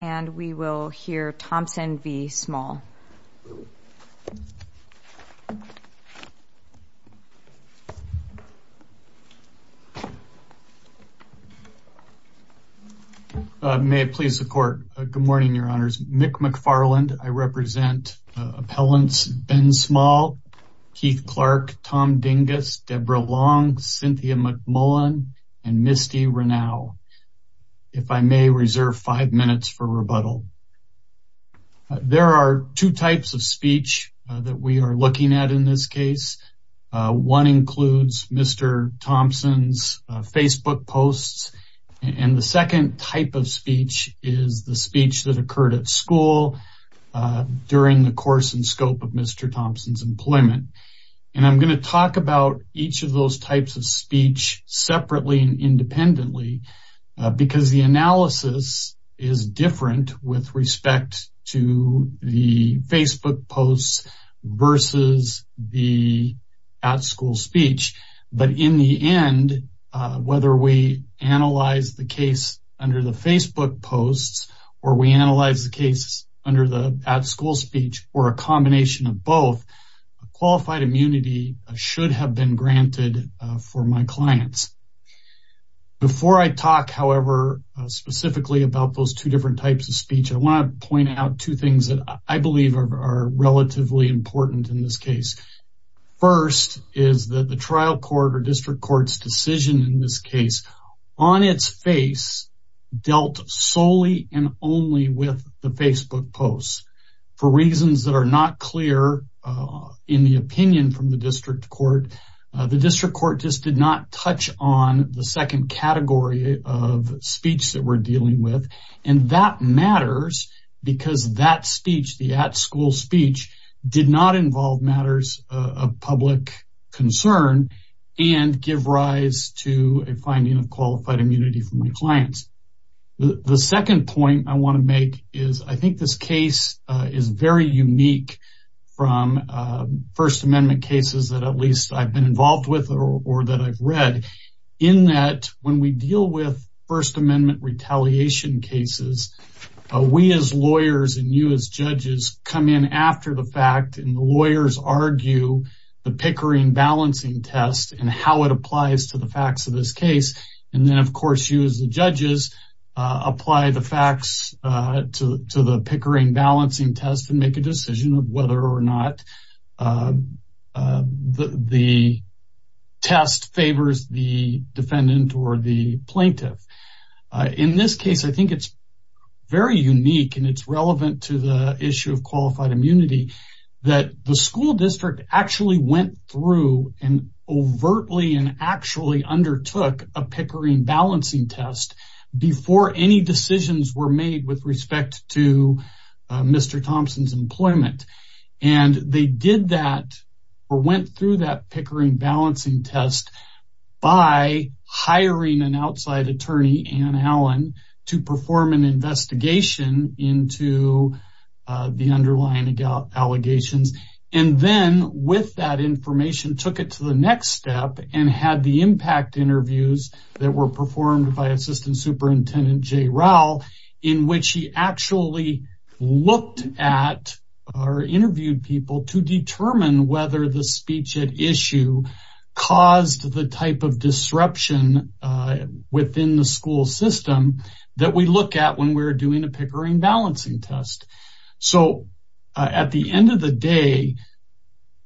And we will hear Thompson v. Small. May it please the court. Good morning, your honors. Mick McFarland. I represent appellants Ben Small, Keith Clark, Tom Dingus, Deborah Long, Cynthia McMullen, and Misty Renau. If I may reserve five minutes for rebuttal, there are two types of speech that we are looking at in this case. One includes Mr. Thompson's Facebook posts. And the second type of speech is the speech that occurred at school during the course and scope of Mr. Thompson's employment. And I'm going to talk about each of those types of speech separately and because the analysis is different with respect to the Facebook posts versus the at school speech. But in the end, whether we analyze the case under the Facebook posts or we analyze the case under the at school speech or a combination of both, qualified immunity should have been granted for my clients. Before I talk, however, specifically about those two different types of speech, I want to point out two things that I believe are relatively important in this case. First is that the trial court or district court's decision in this case on its face dealt solely and only with the Facebook posts for reasons that are not clear in the opinion from the district court. The district court just did not touch on the second category of speech that we're dealing with. And that matters because that speech, the at school speech, did not involve matters of public concern and give rise to a finding of qualified immunity for my clients. The second point I want to make is I think this case is very unique from First Amendment cases that at least I've been involved with or that I've read in that when we deal with First Amendment retaliation cases, we as lawyers and you as judges come in after the fact and the lawyers argue the Pickering balancing test and how it applies to the facts of this case. And then, of course, you as the judges apply the facts to the Pickering balancing test and make a decision of whether or not the test favors the defendant or the plaintiff. In this case, I think it's very unique and it's relevant to the issue of qualified immunity that the school district actually went through and overtly and actually undertook a Pickering balancing test before any decisions were made with respect to Mr. Thompson's employment. And they did that or went through that Pickering balancing test by hiring an outside attorney, Anne Allen, to perform an investigation into the underlying allegations. And then with that information, took it to the next step and had the impact interviews that were performed by Assistant Superintendent Jay Rowell, in which he actually looked at or interviewed people to determine whether the speech at issue caused the type of disruption within the school system that we look at when we're doing a Pickering balancing test. So at the end of the day,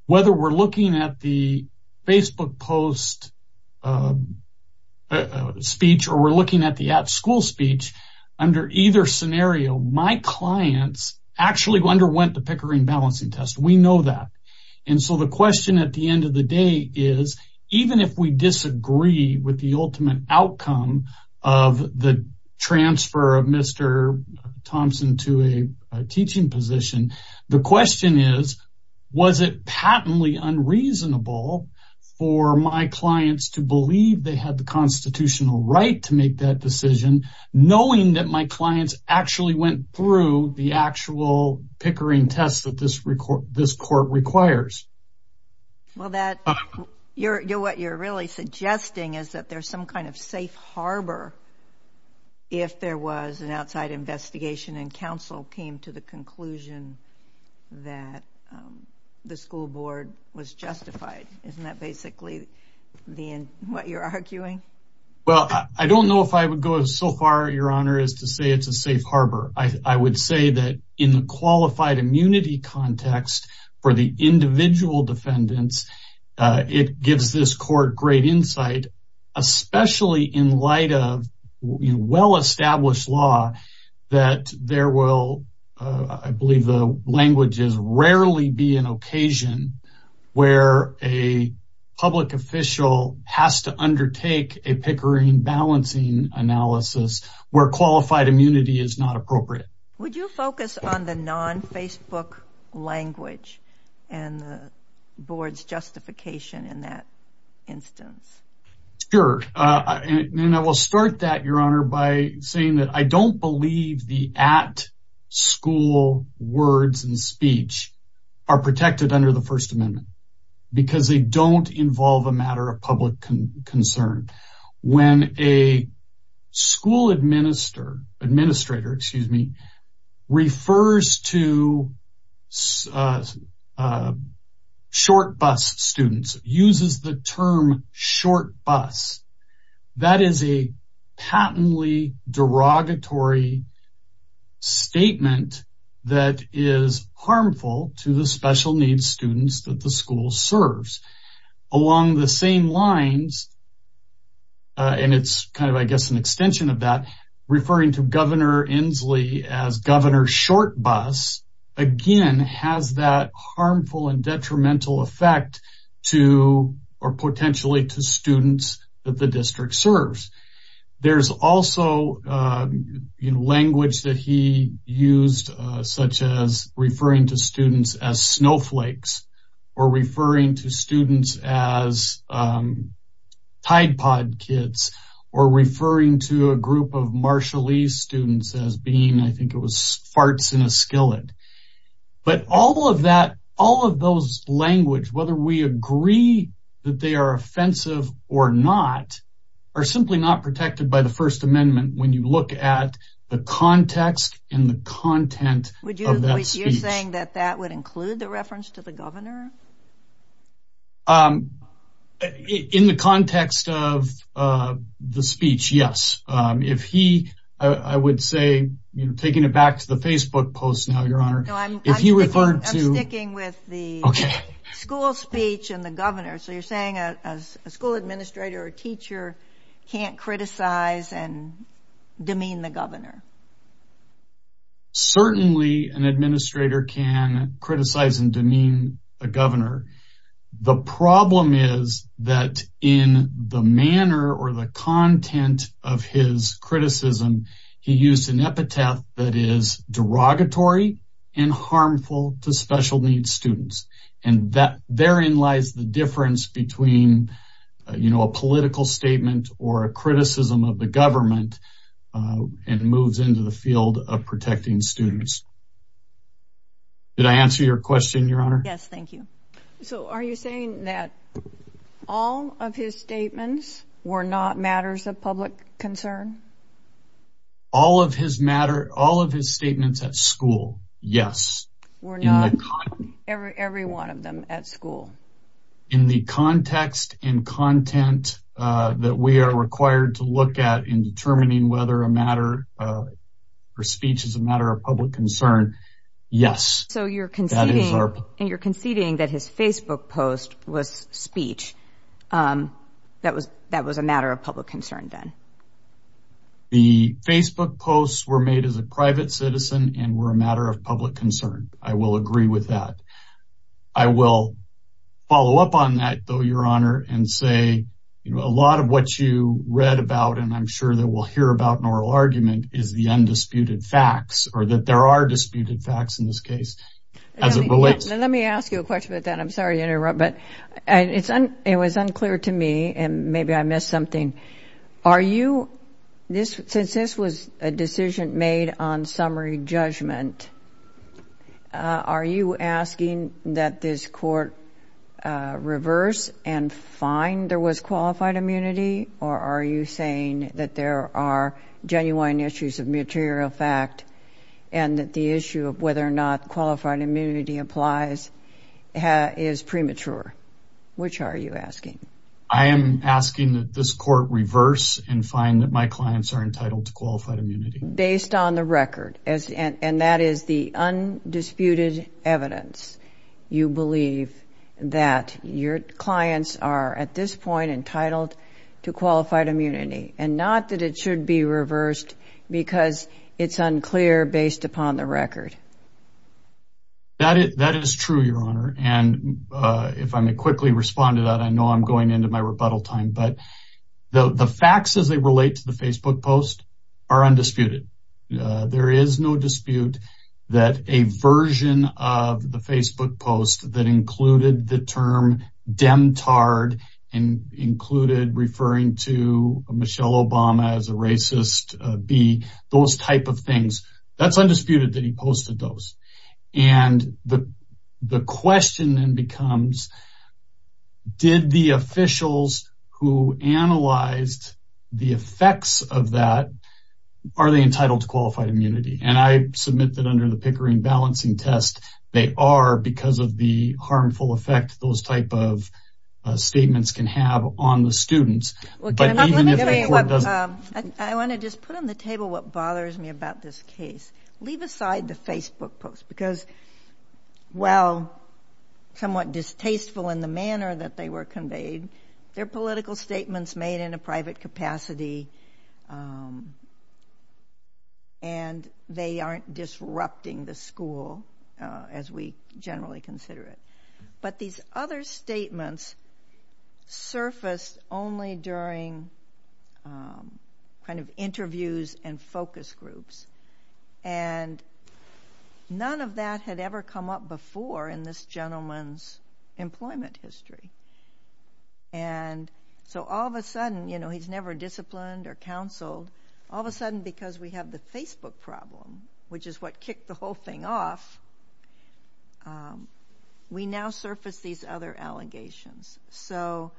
whether we're looking at the Facebook post speech or we're looking at the at school speech under either scenario, my clients actually underwent the Pickering balancing test. We know that. And so the question at the end of the day is, even if we disagree with the ultimate outcome of the transfer of Mr. Thompson to a teaching position, the question is, was it patently unreasonable for my clients to believe they had the constitutional right to make that decision, knowing that my clients actually went through the actual Pickering test that this court requires? Well, what you're really suggesting is that there's some kind of safe harbor if there was an outside investigation and counsel came to the conclusion that the school board was justified. Isn't that basically what you're arguing? Well, I don't know if I would go so far, Your Honor, as to say it's a safe harbor. I would say that in the qualified immunity context for the individual defendants, it gives this court great insight, especially in light of well-established law, that there will, I believe the language is, rarely be an occasion where a public official has to Would you focus on the non-Facebook language and the board's justification in that instance? Sure. And I will start that, Your Honor, by saying that I don't believe the at-school words and speech are protected under the First Amendment because they don't involve a matter of public concern. When a school administrator refers to short bus students, uses the term short bus, that is a patently derogatory statement that is harmful to the special needs students that the school serves. Along the same lines, and it's kind of, I guess, an extension of that, referring to Governor Inslee as Governor Short Bus, again, has that harmful and detrimental effect to or potentially to students that the district serves. There's also language that he used, such as referring to students as snowflakes or referring to students as Tide Pod Kids or referring to a group of Marshallese students as being, I think it was, farts in a skillet. But all of that, all of those language, whether we agree that they are offensive or not, are simply not protected by the First Amendment when you look at the context and the content of that speech. Would you, you're saying that that would include the reference to the governor? In the context of the speech, yes, if he, I would say, you know, taking it back to the Facebook post now, Your Honor, if you referred to... I'm sticking with the school speech and the governor. So you're saying a school administrator or teacher can't criticize and demean the governor? Certainly an administrator can criticize and demean a governor. The problem is that in the manner or the content of his criticism, he used an epitaph that is derogatory and harmful to special needs students. And that therein lies the difference between, you know, a political statement or a criticism of the government and moves into the field of protecting students. Did I answer your question, Your Honor? Yes, thank you. So are you saying that all of his statements were not matters of public concern? All of his matter, all of his statements at school, yes. Were not, every one of them at school. In the context and content that we are required to look at in determining whether a matter or speech is a matter of public concern, yes. So you're conceding, and you're conceding that his Facebook post was speech, that was a matter of public concern then? The Facebook posts were made as a private citizen and were a matter of public concern. I will agree with that. I will follow up on that, though, Your Honor, and say, you know, a lot of what you read about, and I'm sure that we'll hear about in oral argument, is the undisputed facts, or that there are disputed facts in this case. Let me ask you a question about that. I'm sorry to interrupt, but it was unclear to me and maybe I missed something. Are you, since this was a decision made on summary judgment, are you asking that this court reverse and find there was qualified immunity, or are you saying that there are genuine issues of material fact and that the issue of whether or not qualified immunity applies is premature? Which are you asking? I am asking that this court reverse and find that my clients are entitled to qualified immunity. Based on the record, and that is the undisputed evidence. You believe that your clients are at this point entitled to qualified immunity and not that it should be reversed because it's unclear based upon the record. That is true, Your Honor, and if I may quickly respond to that, I know I'm going into my office, but that is undisputed. There is no dispute that a version of the Facebook post that included the term demtard and included referring to Michelle Obama as a racist bee, those type of things, that's undisputed that he posted those. And the question then becomes, did the officials who analyzed the effects of that, are they entitled to qualified immunity? And I submit that under the Pickering balancing test, they are because of the harmful effect those type of statements can have on the students. Well, I want to just put on the table what bothers me about this case. Leave aside the Facebook post, because while somewhat distasteful in the manner that they were conveyed, they're political statements made in a private capacity. And they aren't disrupting the school, as we generally consider it. But these other statements surfaced only during kind of interviews and focus groups. And none of that had ever come up before in this gentleman's employment history. And so all of a sudden, you know, he's never disciplined or counseled. All of a sudden, because we have the Facebook problem, which is what kicked the whole thing off, we now surface these other allegations. So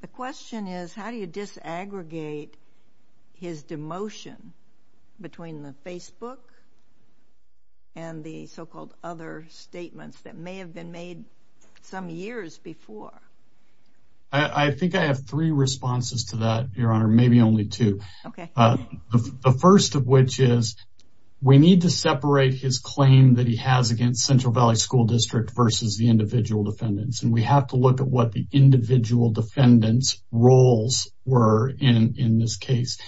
the question is, how do you disaggregate his demotion between the Facebook and the so-called other statements that may have been made some years before? I think I have three responses to that, Your Honor, maybe only two. OK. The first of which is, we need to separate his claim that he has against Central Valley School District versus the individual defendants. And we have to look at what the individual defendants' roles were in this case.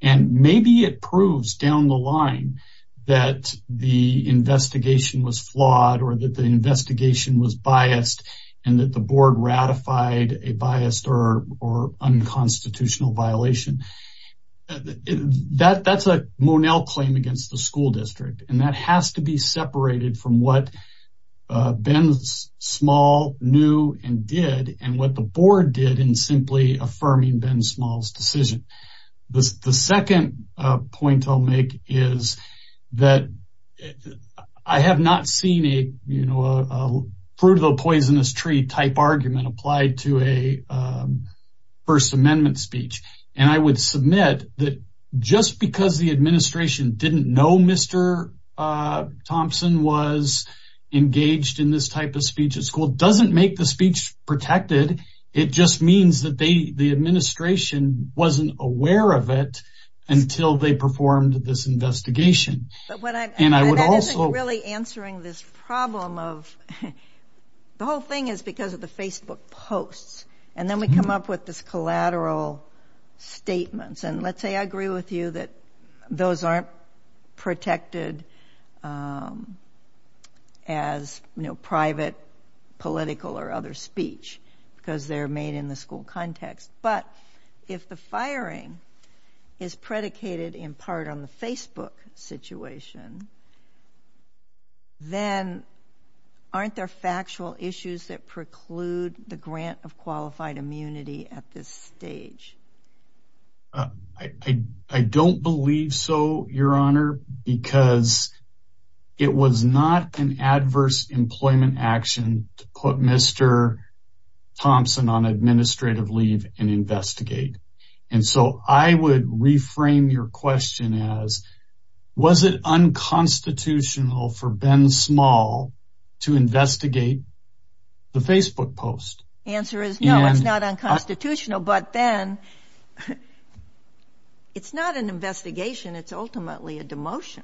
And maybe it proves down the line that the investigation was flawed or that the investigation was biased and that the board ratified a biased or unconstitutional violation. That's a Monell claim against the school district. And that has to be separated from what Ben Small knew and did and what the board did in simply affirming Ben Small's decision. The second point I'll make is that I have not seen a fruit of the poisonous tree type argument applied to a First Amendment speech. And I would submit that just because the administration didn't know Mr. Thompson was engaged in this type of speech at school doesn't make the speech protected. It just means that the administration wasn't aware of it until they performed this investigation. And I would also... That isn't really answering this problem of... The whole thing is because of the Facebook posts. And then we come up with this collateral statements. And let's say I agree with you that those aren't protected as private, political, or other speech because they're made in the school context. But if the firing is predicated in part on the Facebook situation, then aren't there qualified immunity at this stage? I don't believe so, Your Honor, because it was not an adverse employment action to put Mr. Thompson on administrative leave and investigate. And so I would reframe your question as, was it unconstitutional for Ben Small to investigate the Facebook post? Answer is no, it's not unconstitutional. But then it's not an investigation. It's ultimately a demotion.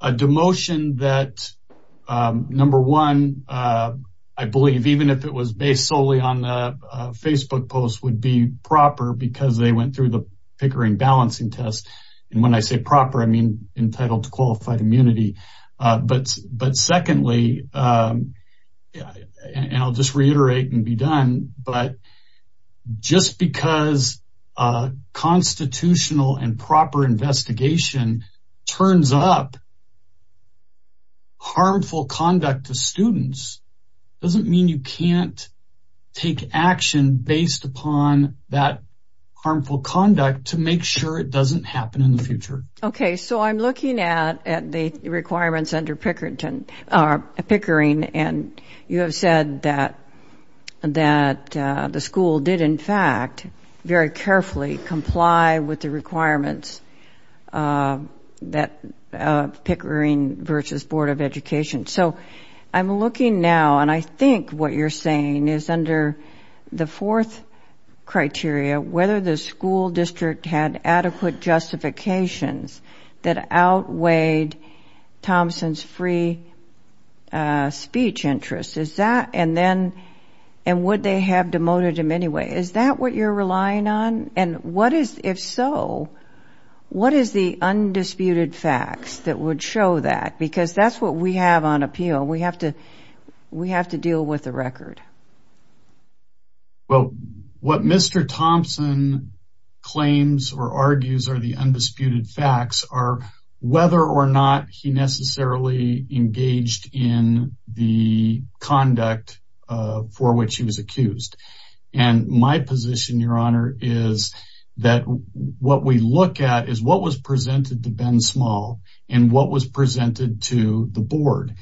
A demotion that, number one, I believe, even if it was based solely on Facebook posts, would be proper because they went through the Pickering balancing test. And when I say proper, I mean entitled to qualified immunity. But secondly, and I'll just reiterate and be done, but just because a constitutional and proper investigation turns up harmful conduct to students doesn't mean you can't take action based upon that harmful conduct to make sure it doesn't happen in the future. Okay, so I'm looking at the requirements under Pickering, and you have said that the school did, in fact, very carefully comply with the requirements of Pickering versus Board of Education. So I'm looking now, and I think what you're saying is under the fourth criteria, whether the school district had adequate justifications that outweighed Thompson's free speech interest, is that, and then, and would they have demoted him anyway? Is that what you're relying on? And what is, if so, what is the undisputed facts that would show that? Because that's what we have on appeal. We have to deal with the record. Well, what Mr. Thompson claims or argues are the undisputed facts are whether or not he necessarily engaged in the conduct for which he was accused. And my position, Your Honor, is that what we look at is what was presented to Ben Small and what was presented to the board,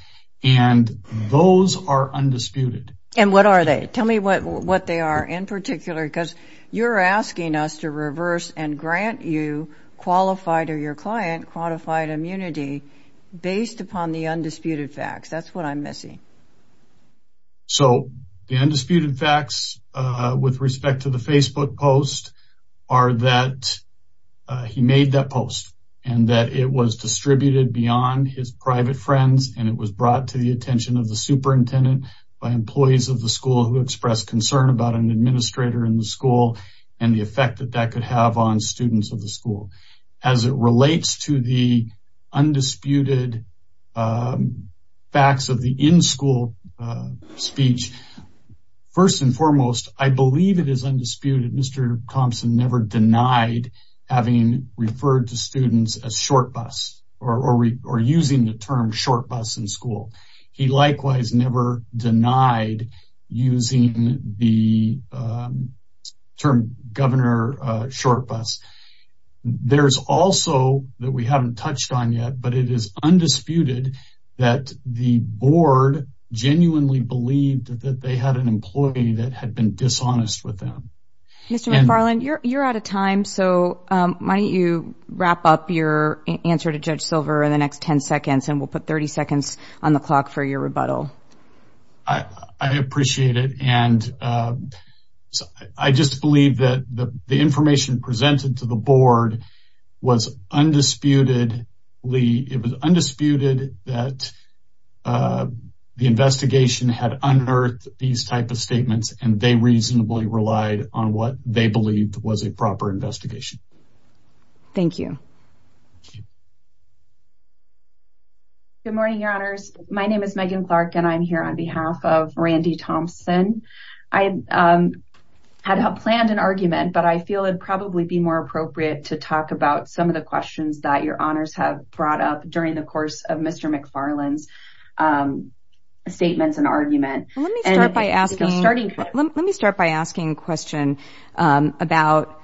and those are undisputed. And what are they? Tell me what they are in particular, because you're asking us to reverse and grant you qualified or your client qualified immunity based upon the undisputed facts. That's what I'm missing. So the undisputed facts with respect to the Facebook post are that he made that post and that it was distributed beyond his private friends and it was brought to the attention of the superintendent by employees of the school who expressed concern about an administrator in the school and the effect that that could have on students of the school. As it relates to the undisputed facts of the in-school speech, first and foremost, I believe it is undisputed Mr. Thompson never denied having referred to students as short bus, or using the term short bus in school. He likewise never denied using the term governor short bus. There's also, that we haven't touched on yet, but it is undisputed that the board genuinely believed that they had an employee that had been dishonest with them. Mr. McFarland, you're out of time, so why don't you wrap up your answer to Judge Silver in the next 10 seconds and we'll put 30 seconds on the clock for your rebuttal. I appreciate it and I just believe that the information presented to the board was undisputedly, it was undisputed that the investigation had unearthed these type of statements and they reasonably relied on what they believed was a proper investigation. Thank you. Good morning, your honors. My name is Megan Clark and I'm here on behalf of Randy Thompson. I had planned an argument, but I feel it'd probably be more appropriate to talk about some of the questions that your honors have brought up during the course of Mr. McFarland's statements and argument. Let me start by asking, let me start by asking a question about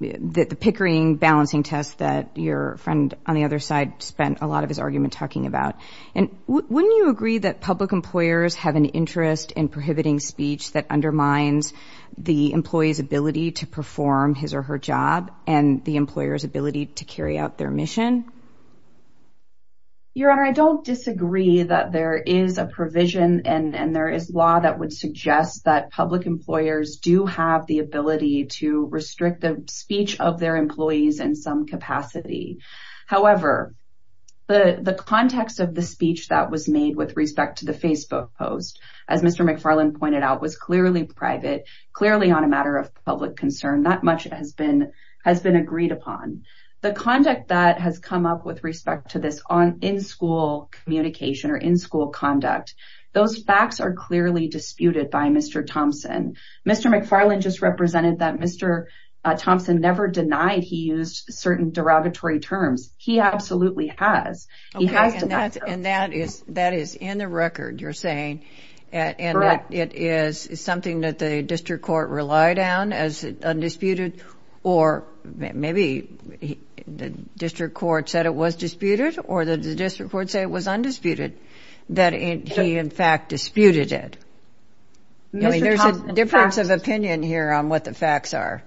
the Pickering balancing test that your friend on the other side spent a lot of his argument talking about. And wouldn't you agree that public employers have an interest in prohibiting speech that undermines the employee's ability to perform his or her job and the employer's ability to carry out their mission? Your honor, I don't disagree that there is a provision and there is law that would suggest that public employers do have the ability to restrict the speech of their employees in some capacity. However, the context of the speech that was made with respect to the Facebook post, as Mr. McFarland pointed out, was clearly private, clearly on a matter of public concern. Not much has been agreed upon. The conduct that has come up with respect to this in-school communication or in-school conduct, those facts are clearly disputed by Mr. Thompson. Mr. McFarland just represented that Mr. Thompson never denied he used certain derogatory terms. He absolutely has. He has denied those. Okay, and that is in the record, you're saying, and it is something that the district court relied on as undisputed, or maybe the district court said it was disputed, or the district court said it was undisputed, that he in fact disputed it. There's a difference of opinion here on what the facts are.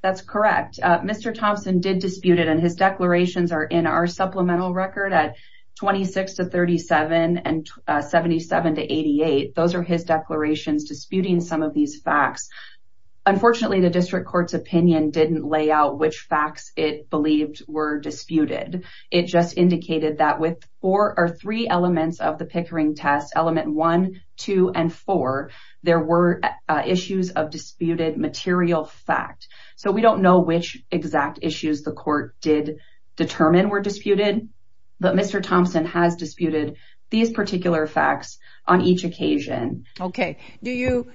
That's correct. Mr. Thompson did dispute it and his declarations are in our supplemental record at 26 to 37 and 77 to 88. Those are his declarations disputing some of these facts. Unfortunately, the district court's opinion didn't lay out which facts it believed were disputed. It just indicated that with four or three elements of the Pickering test, element one, two, and four, there were issues of disputed material fact. So we don't know which exact issues the court did determine were disputed, but Mr. Thompson has disputed these particular facts on each occasion. Okay. Do you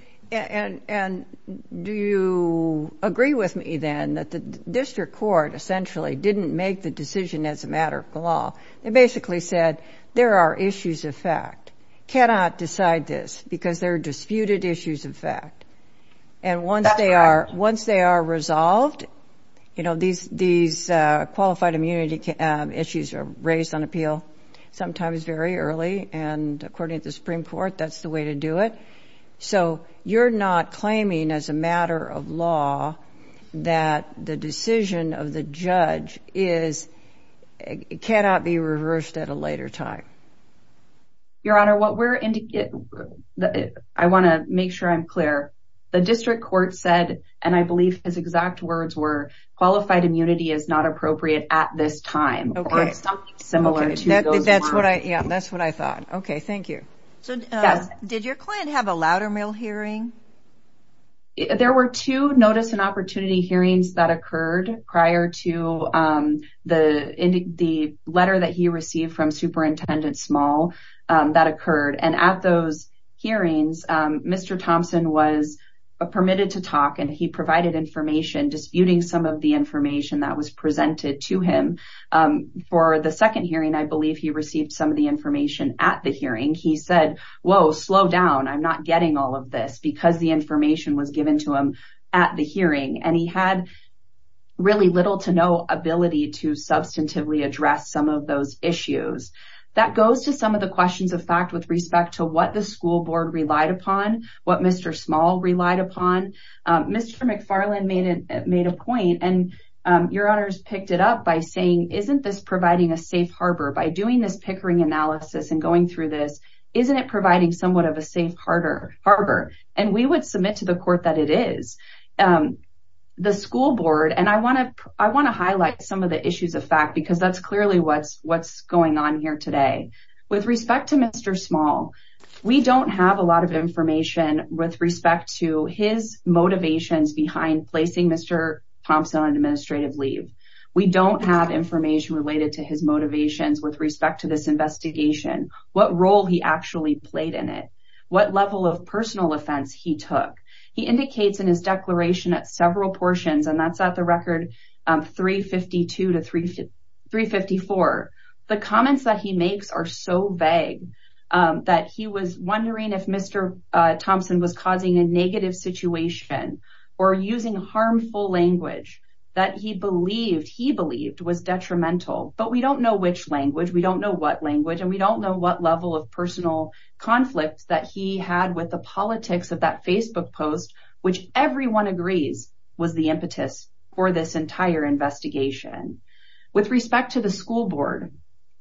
agree with me then that the district court essentially didn't make the decision as a matter of law? It basically said, there are issues of fact, cannot decide this because they're disputed issues of fact. And once they are resolved, you know, these qualified immunity issues are raised on appeal sometimes very early, and according to the Supreme Court, that's the way to do it. So you're not claiming as a matter of law that the decision of the judge cannot be reversed at a later time? Your Honor, I want to make sure I'm clear. The district court said, and I believe his exact words were, qualified immunity is not appropriate at this time or something similar to those lines. Okay. That's what I thought. Okay. Thank you. So did your client have a Loudermill hearing? There were two notice and opportunity hearings that occurred prior to the letter that he received from Superintendent Small that occurred. And at those hearings, Mr. Thompson was permitted to talk and he provided information disputing some of the information that was presented to him. For the second hearing, I believe he received some of the information at the hearing. He said, whoa, slow down, I'm not getting all of this, because the information was given to him at the hearing. And he had really little to no ability to substantively address some of those issues. That goes to some of the questions of fact with respect to what the school board relied upon, what Mr. Small relied upon. Mr. McFarland made a point, and your Honors picked it up by saying, isn't this providing a safe harbor? By doing this Pickering analysis and going through this, isn't it providing somewhat of a safe harbor? And we would submit to the court that it is. The school board, and I want to highlight some of the issues of fact, because that's clearly what's going on here today. With respect to Mr. Small, we don't have a lot of information with respect to his motivations behind placing Mr. Thompson on administrative leave. We don't have information related to his motivations with respect to this investigation. What role he actually played in it. What level of personal offense he took. He indicates in his declaration at several portions, and that's at the record 352-354, the comments that he makes are so vague, that he was wondering if Mr. Thompson was causing a negative situation or using harmful language that he believed was detrimental. But we don't know which language, we don't know what language, and we don't know what level of personal conflict that he had with the politics of that Facebook post, which everyone agrees was the impetus for this entire investigation. With respect to the school board,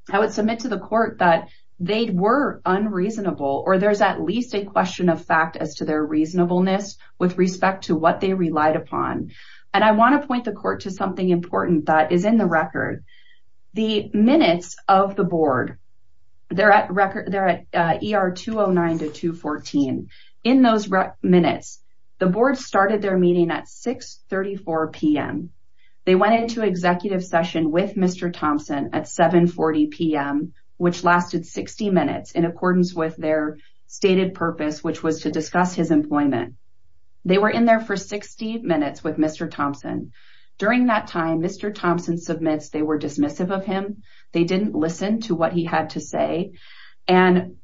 I would submit to the court that they were unreasonable, or there's at least a question of fact as to their reasonableness with respect to what they relied upon. And I want to point the court to something important that is in the record. The minutes of the board, they're at ER 209-214. In those minutes, the board started their meeting at 6.34 p.m. They went into executive session with Mr. Thompson at 7.40 p.m., which lasted 60 minutes in accordance with their stated purpose, which was to discuss his employment. They were in there for 60 minutes with Mr. Thompson. During that time, Mr. Thompson submits they were dismissive of him, they didn't listen to what he had to say, and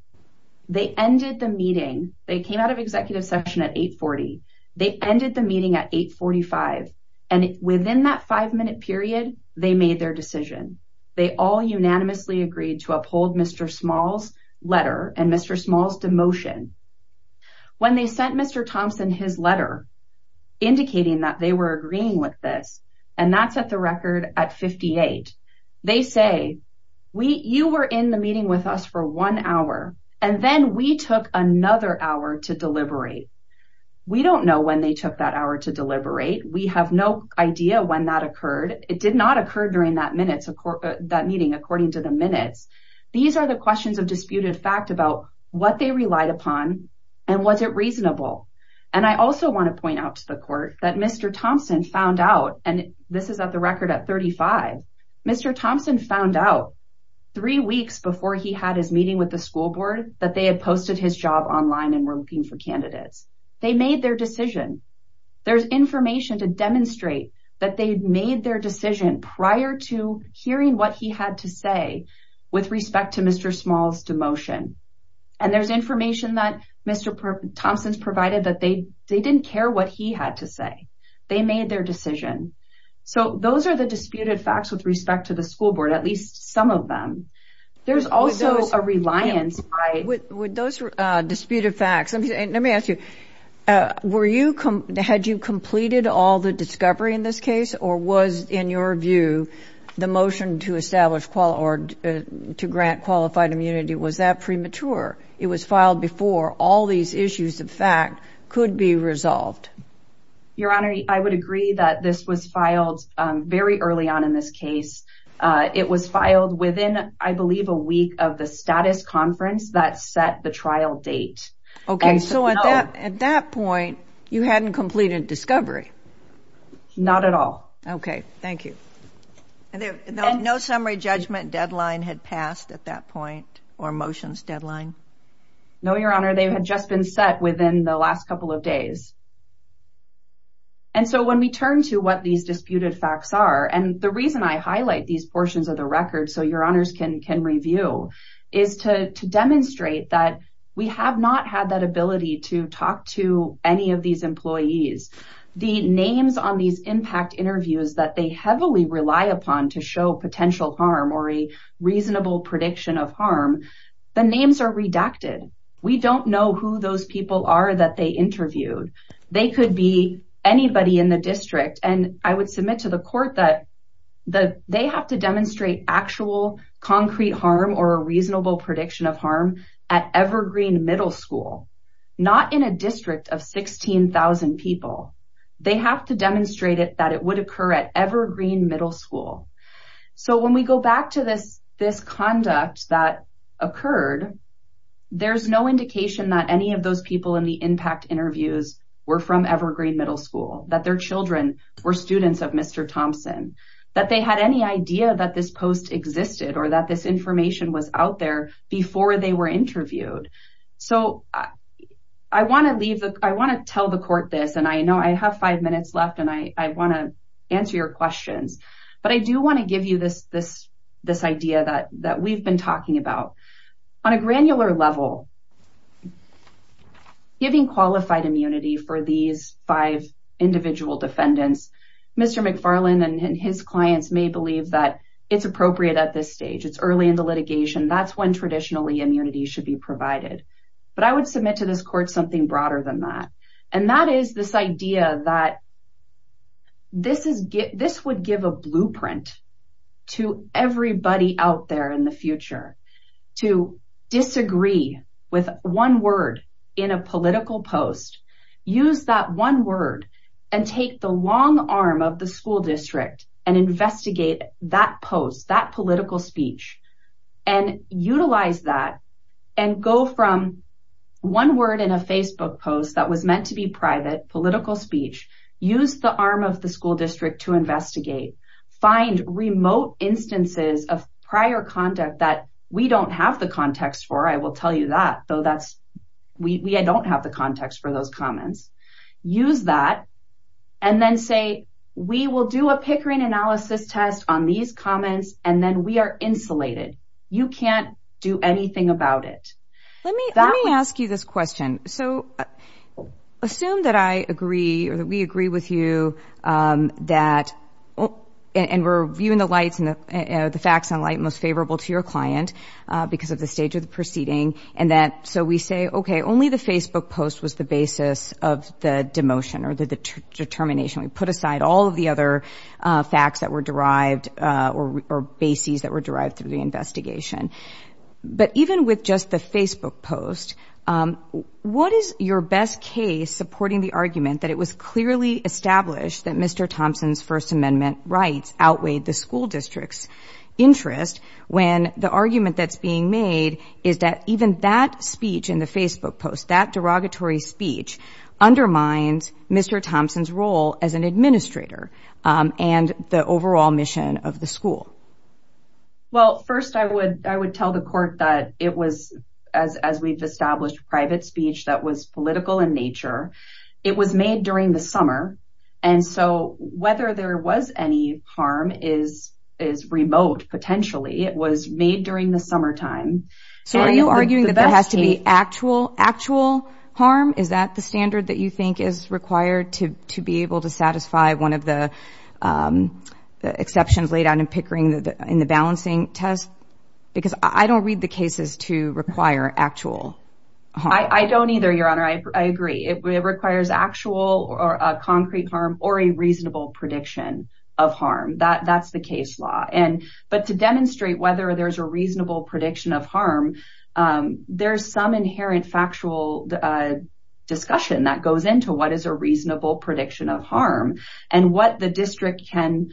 they ended the meeting, they came out of executive session at 8.40, they ended the meeting at 8.45, and within that five-minute period, they made their decision. They all unanimously agreed to uphold Mr. Small's letter and Mr. Small's demotion. When they sent Mr. Thompson his letter indicating that they were agreeing with this, and that's at the record at 58, they say, you were in the meeting with us for one hour, and then we took another hour to deliberate. We don't know when they took that hour to deliberate. We have no idea when that occurred. It did not occur during that meeting according to the minutes. These are the questions of disputed fact about what they relied upon, and was it reasonable? I also want to point out to the court that Mr. Thompson found out, and this is at the record at 35, Mr. Thompson found out three weeks before he had his meeting with the school board that they had posted his job online and were looking for candidates. They made their decision. There's information to demonstrate that they'd made their decision prior to hearing what he had to say with respect to Mr. Small's demotion, and there's information that Mr. Thompson's provided that they didn't care what he had to say. They made their decision. So those are the disputed facts with respect to the school board, at least some of them. There's also a reliance by... Had you completed all the discovery in this case, or was, in your view, the motion to establish or to grant qualified immunity, was that premature? It was filed before all these issues of fact could be resolved. Your Honor, I would agree that this was filed very early on in this case. It was filed within, I believe, a week of the status conference that set the trial date. Okay. So at that point, you hadn't completed discovery? Not at all. Okay. Thank you. And no summary judgment deadline had passed at that point, or motions deadline? No, Your Honor. They had just been set within the last couple of days. And so when we turn to what these disputed facts are, and the reason I highlight these to talk to any of these employees, the names on these impact interviews that they heavily rely upon to show potential harm or a reasonable prediction of harm, the names are redacted. We don't know who those people are that they interviewed. They could be anybody in the district. And I would submit to the court that they have to demonstrate actual concrete harm or reasonable prediction of harm at Evergreen Middle School, not in a district of 16,000 people. They have to demonstrate it that it would occur at Evergreen Middle School. So when we go back to this conduct that occurred, there's no indication that any of those people in the impact interviews were from Evergreen Middle School, that their children were students of Mr. Thompson, that they had any idea that this post existed or that this information was out there before they were interviewed. So I want to tell the court this, and I know I have five minutes left, and I want to answer your questions, but I do want to give you this idea that we've been talking about. On a granular level, giving qualified immunity for these five individual defendants, Mr. McFarland and his clients may believe that it's appropriate at this stage. It's early in the litigation. That's when traditionally immunity should be provided. But I would submit to this court something broader than that, and that is this idea that this would give a blueprint to everybody out there in the future to disagree with one word in a political post, use that one word, and take the long arm of the school district and investigate that post, that political speech, and utilize that, and go from one word in a Facebook post that was meant to be private, political speech, use the arm of the school district to investigate, find remote instances of prior conduct that we don't have the context for, I will tell you that, though we don't have the context for those comments, use that, and then say, we will do a Pickering analysis test on these comments, and then we are insulated. You can't do anything about it. Let me ask you this question. So, assume that I agree or that we agree with you that, and we're viewing the facts in light most favorable to your client because of the stage of the proceeding, and that, so we say, only the Facebook post was the basis of the demotion or the determination. We put aside all of the other facts that were derived or bases that were derived through the investigation, but even with just the Facebook post, what is your best case supporting the argument that it was clearly established that Mr. Thompson's First Amendment rights outweighed the school district's interest, when the argument that's being made is that even that speech in the Facebook post, that derogatory speech undermines Mr. Thompson's role as an administrator and the overall mission of the school? Well, first, I would tell the court that it was, as we've established, private speech that was political in nature. It was made during the summer, and so whether there was any harm is remote, potentially. It was made during the summertime. So are you arguing that there has to be actual harm? Is that the standard that you think is required to be able to satisfy one of the exceptions laid out in Pickering in the balancing test? Because I don't read the cases to require actual harm. I don't either, Your Honor. I agree. It requires actual or a concrete harm or a reasonable prediction of harm. That's the case law, but to demonstrate whether there's a reasonable prediction of harm, there's some inherent factual discussion that goes into what is a reasonable prediction of harm. And what the district can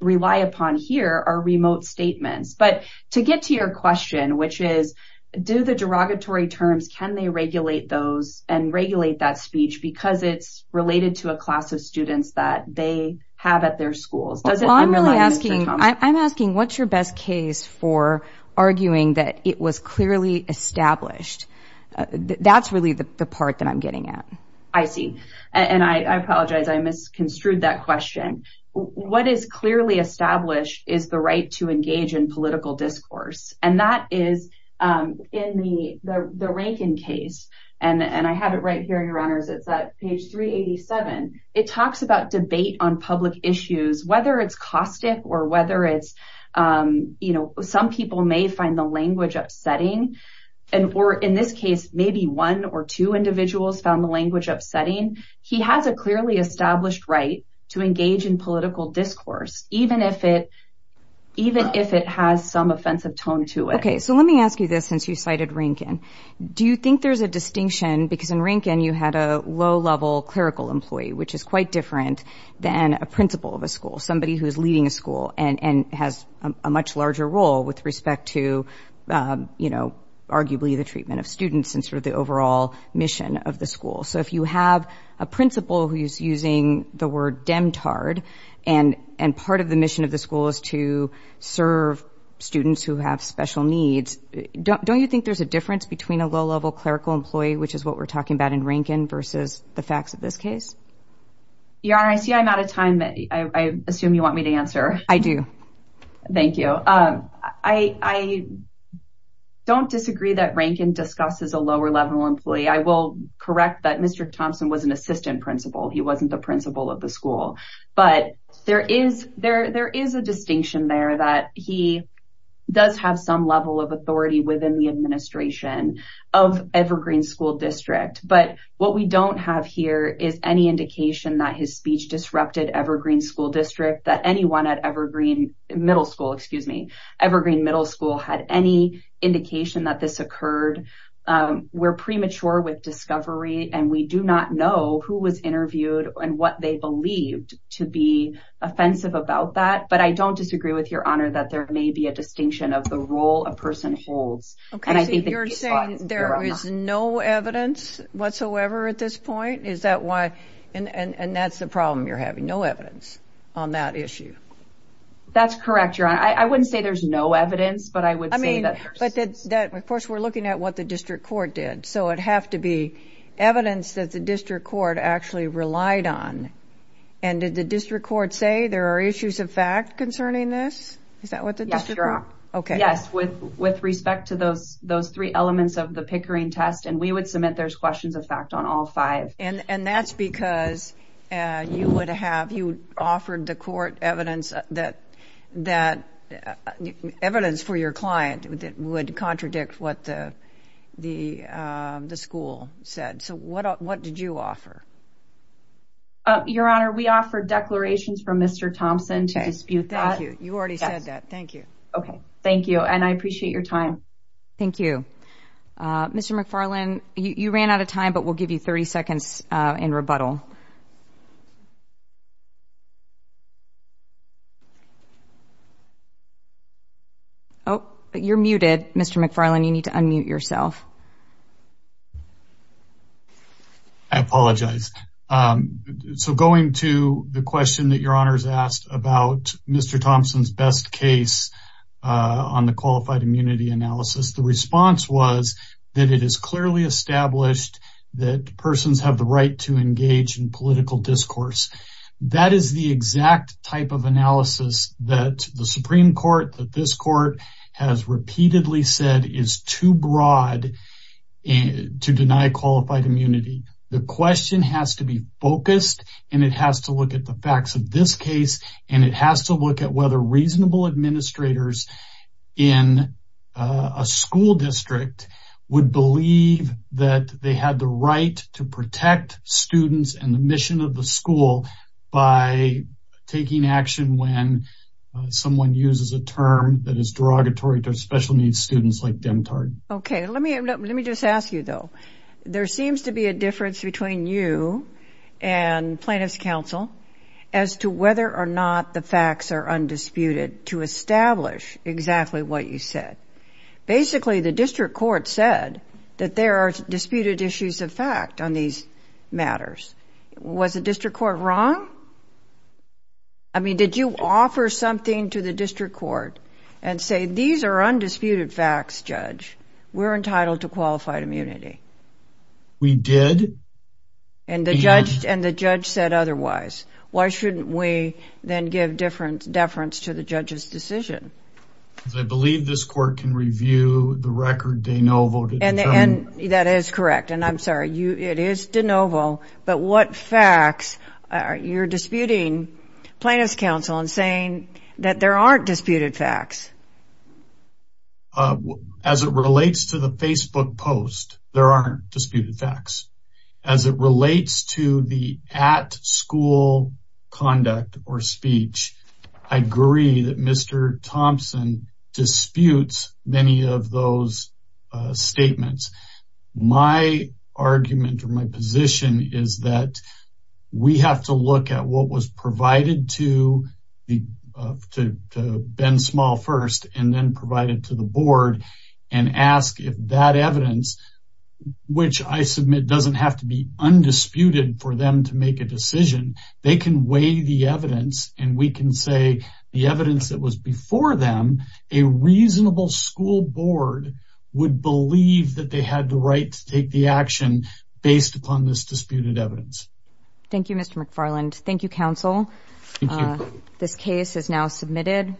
rely upon here are remote statements. But to get to your question, which is, do the derogatory terms, can they regulate those and regulate that speech because it's related to a class of students that they have at their schools? I'm asking, what's your best case for arguing that it was clearly established? That's really the part that I'm getting at. I see. And I apologize. I misconstrued that question. What is clearly established is the right to engage in political discourse. And that is in the Rankin case. And I have it right here, Your Honors. It's at page 387. It talks about debate on public issues, whether it's caustic or whether it's, you know, some people may find the language upsetting. And or in this case, maybe one or two individuals found the language upsetting. He has a clearly established right to engage in political discourse, even if it even if it has some offensive tone to it. OK, so let me ask you this, since you cited Rankin, do you think there's a distinction because in Rankin, you had a low level clerical employee, which is quite different than a principal of a school, somebody who is leading a school and has a much larger role with respect to, you know, arguably the treatment of students and sort of the overall mission of the school. So if you have a principal who is using the word demtard and and part of the mission of the school is to serve students who have special needs, don't you think there's a difference between a low level clerical employee, which is what we're talking about in Rankin versus the facts of this case? Yara, I see I'm out of time. I assume you want me to answer. I do. Thank you. I don't disagree that Rankin discusses a lower level employee. I will correct that Mr. Thompson was an assistant principal. He wasn't the principal of the school. But there is there there is a distinction there that he does have some level of authority within the administration of Evergreen School District. But what we don't have here is any indication that his speech disrupted Evergreen School District, that anyone at Evergreen Middle School, excuse me, Evergreen Middle School had any indication that this occurred. We're premature with discovery, and we do not know who was interviewed and what they believed to be offensive about that. But I don't disagree with your honor that there may be a distinction of the role a person holds. OK, you're saying there is no evidence whatsoever at this point. Is that why? And that's the problem. You're having no evidence on that issue. That's correct, your honor. I wouldn't say there's no evidence, but I would say that, of course, we're looking at what the district court did. So it'd have to be evidence that the district court actually relied on. And did the district court say there are issues of fact concerning this? Is that what the district court? OK, yes, with respect to those three elements of the Pickering test. And we would submit there's questions of fact on all five. And that's because you offered the court evidence that evidence for your client would contradict what the school said. So what did you offer? Your honor, we offered declarations from Mr. Thompson to dispute that. Thank you. You already said that. Thank you. OK, thank you. And I appreciate your time. Thank you. Mr. McFarlane, you ran out of time, but we'll give you 30 seconds in rebuttal. Oh, you're muted, Mr. McFarlane. You need to unmute yourself. I apologize. So going to the question that your honor's asked about Mr. Thompson's best case on the qualified immunity analysis, the response was that it is clearly established that persons have the right to engage in political discourse. That is the exact type of analysis that the Supreme Court, that this court has repeatedly said is too broad to deny qualified immunity. The question has to be focused, and it has to look at the facts of this case, and it has to look at whether reasonable administrators in a school district would believe that they had the right to protect students and the mission of the school by taking action when someone uses a term that is derogatory to special needs students like Demtard. OK, let me just ask you, though. There seems to be a difference between you and plaintiff's counsel as to whether or not the facts are undisputed to establish exactly what you said. Basically, the district court said that there are disputed issues of fact on these matters. Was the district court wrong? I mean, did you offer something to the district court and say, these are undisputed facts, judge, we're entitled to qualified immunity? We did. And the judge said otherwise. Why shouldn't we then give deference to the judge's decision? Because I believe this court can review the record de novo. That is correct, and I'm sorry, it is de novo. But what facts, you're disputing plaintiff's counsel and saying that there aren't disputed facts? As it relates to the Facebook post, there aren't disputed facts. As it relates to the at school conduct or speech, I agree that Mr. Thompson disputes many of those statements. My argument or my position is that we have to look at what was provided to to Ben Small first and then provided to the board and ask if that evidence, which I submit doesn't have to be undisputed for them to make a decision, they can weigh the evidence and we can say the evidence that was before them, a reasonable school board would believe that they had the right to take the action based upon this disputed evidence. Thank you, Mr. McFarland. Thank you, counsel. Thank you. This case is now submitted.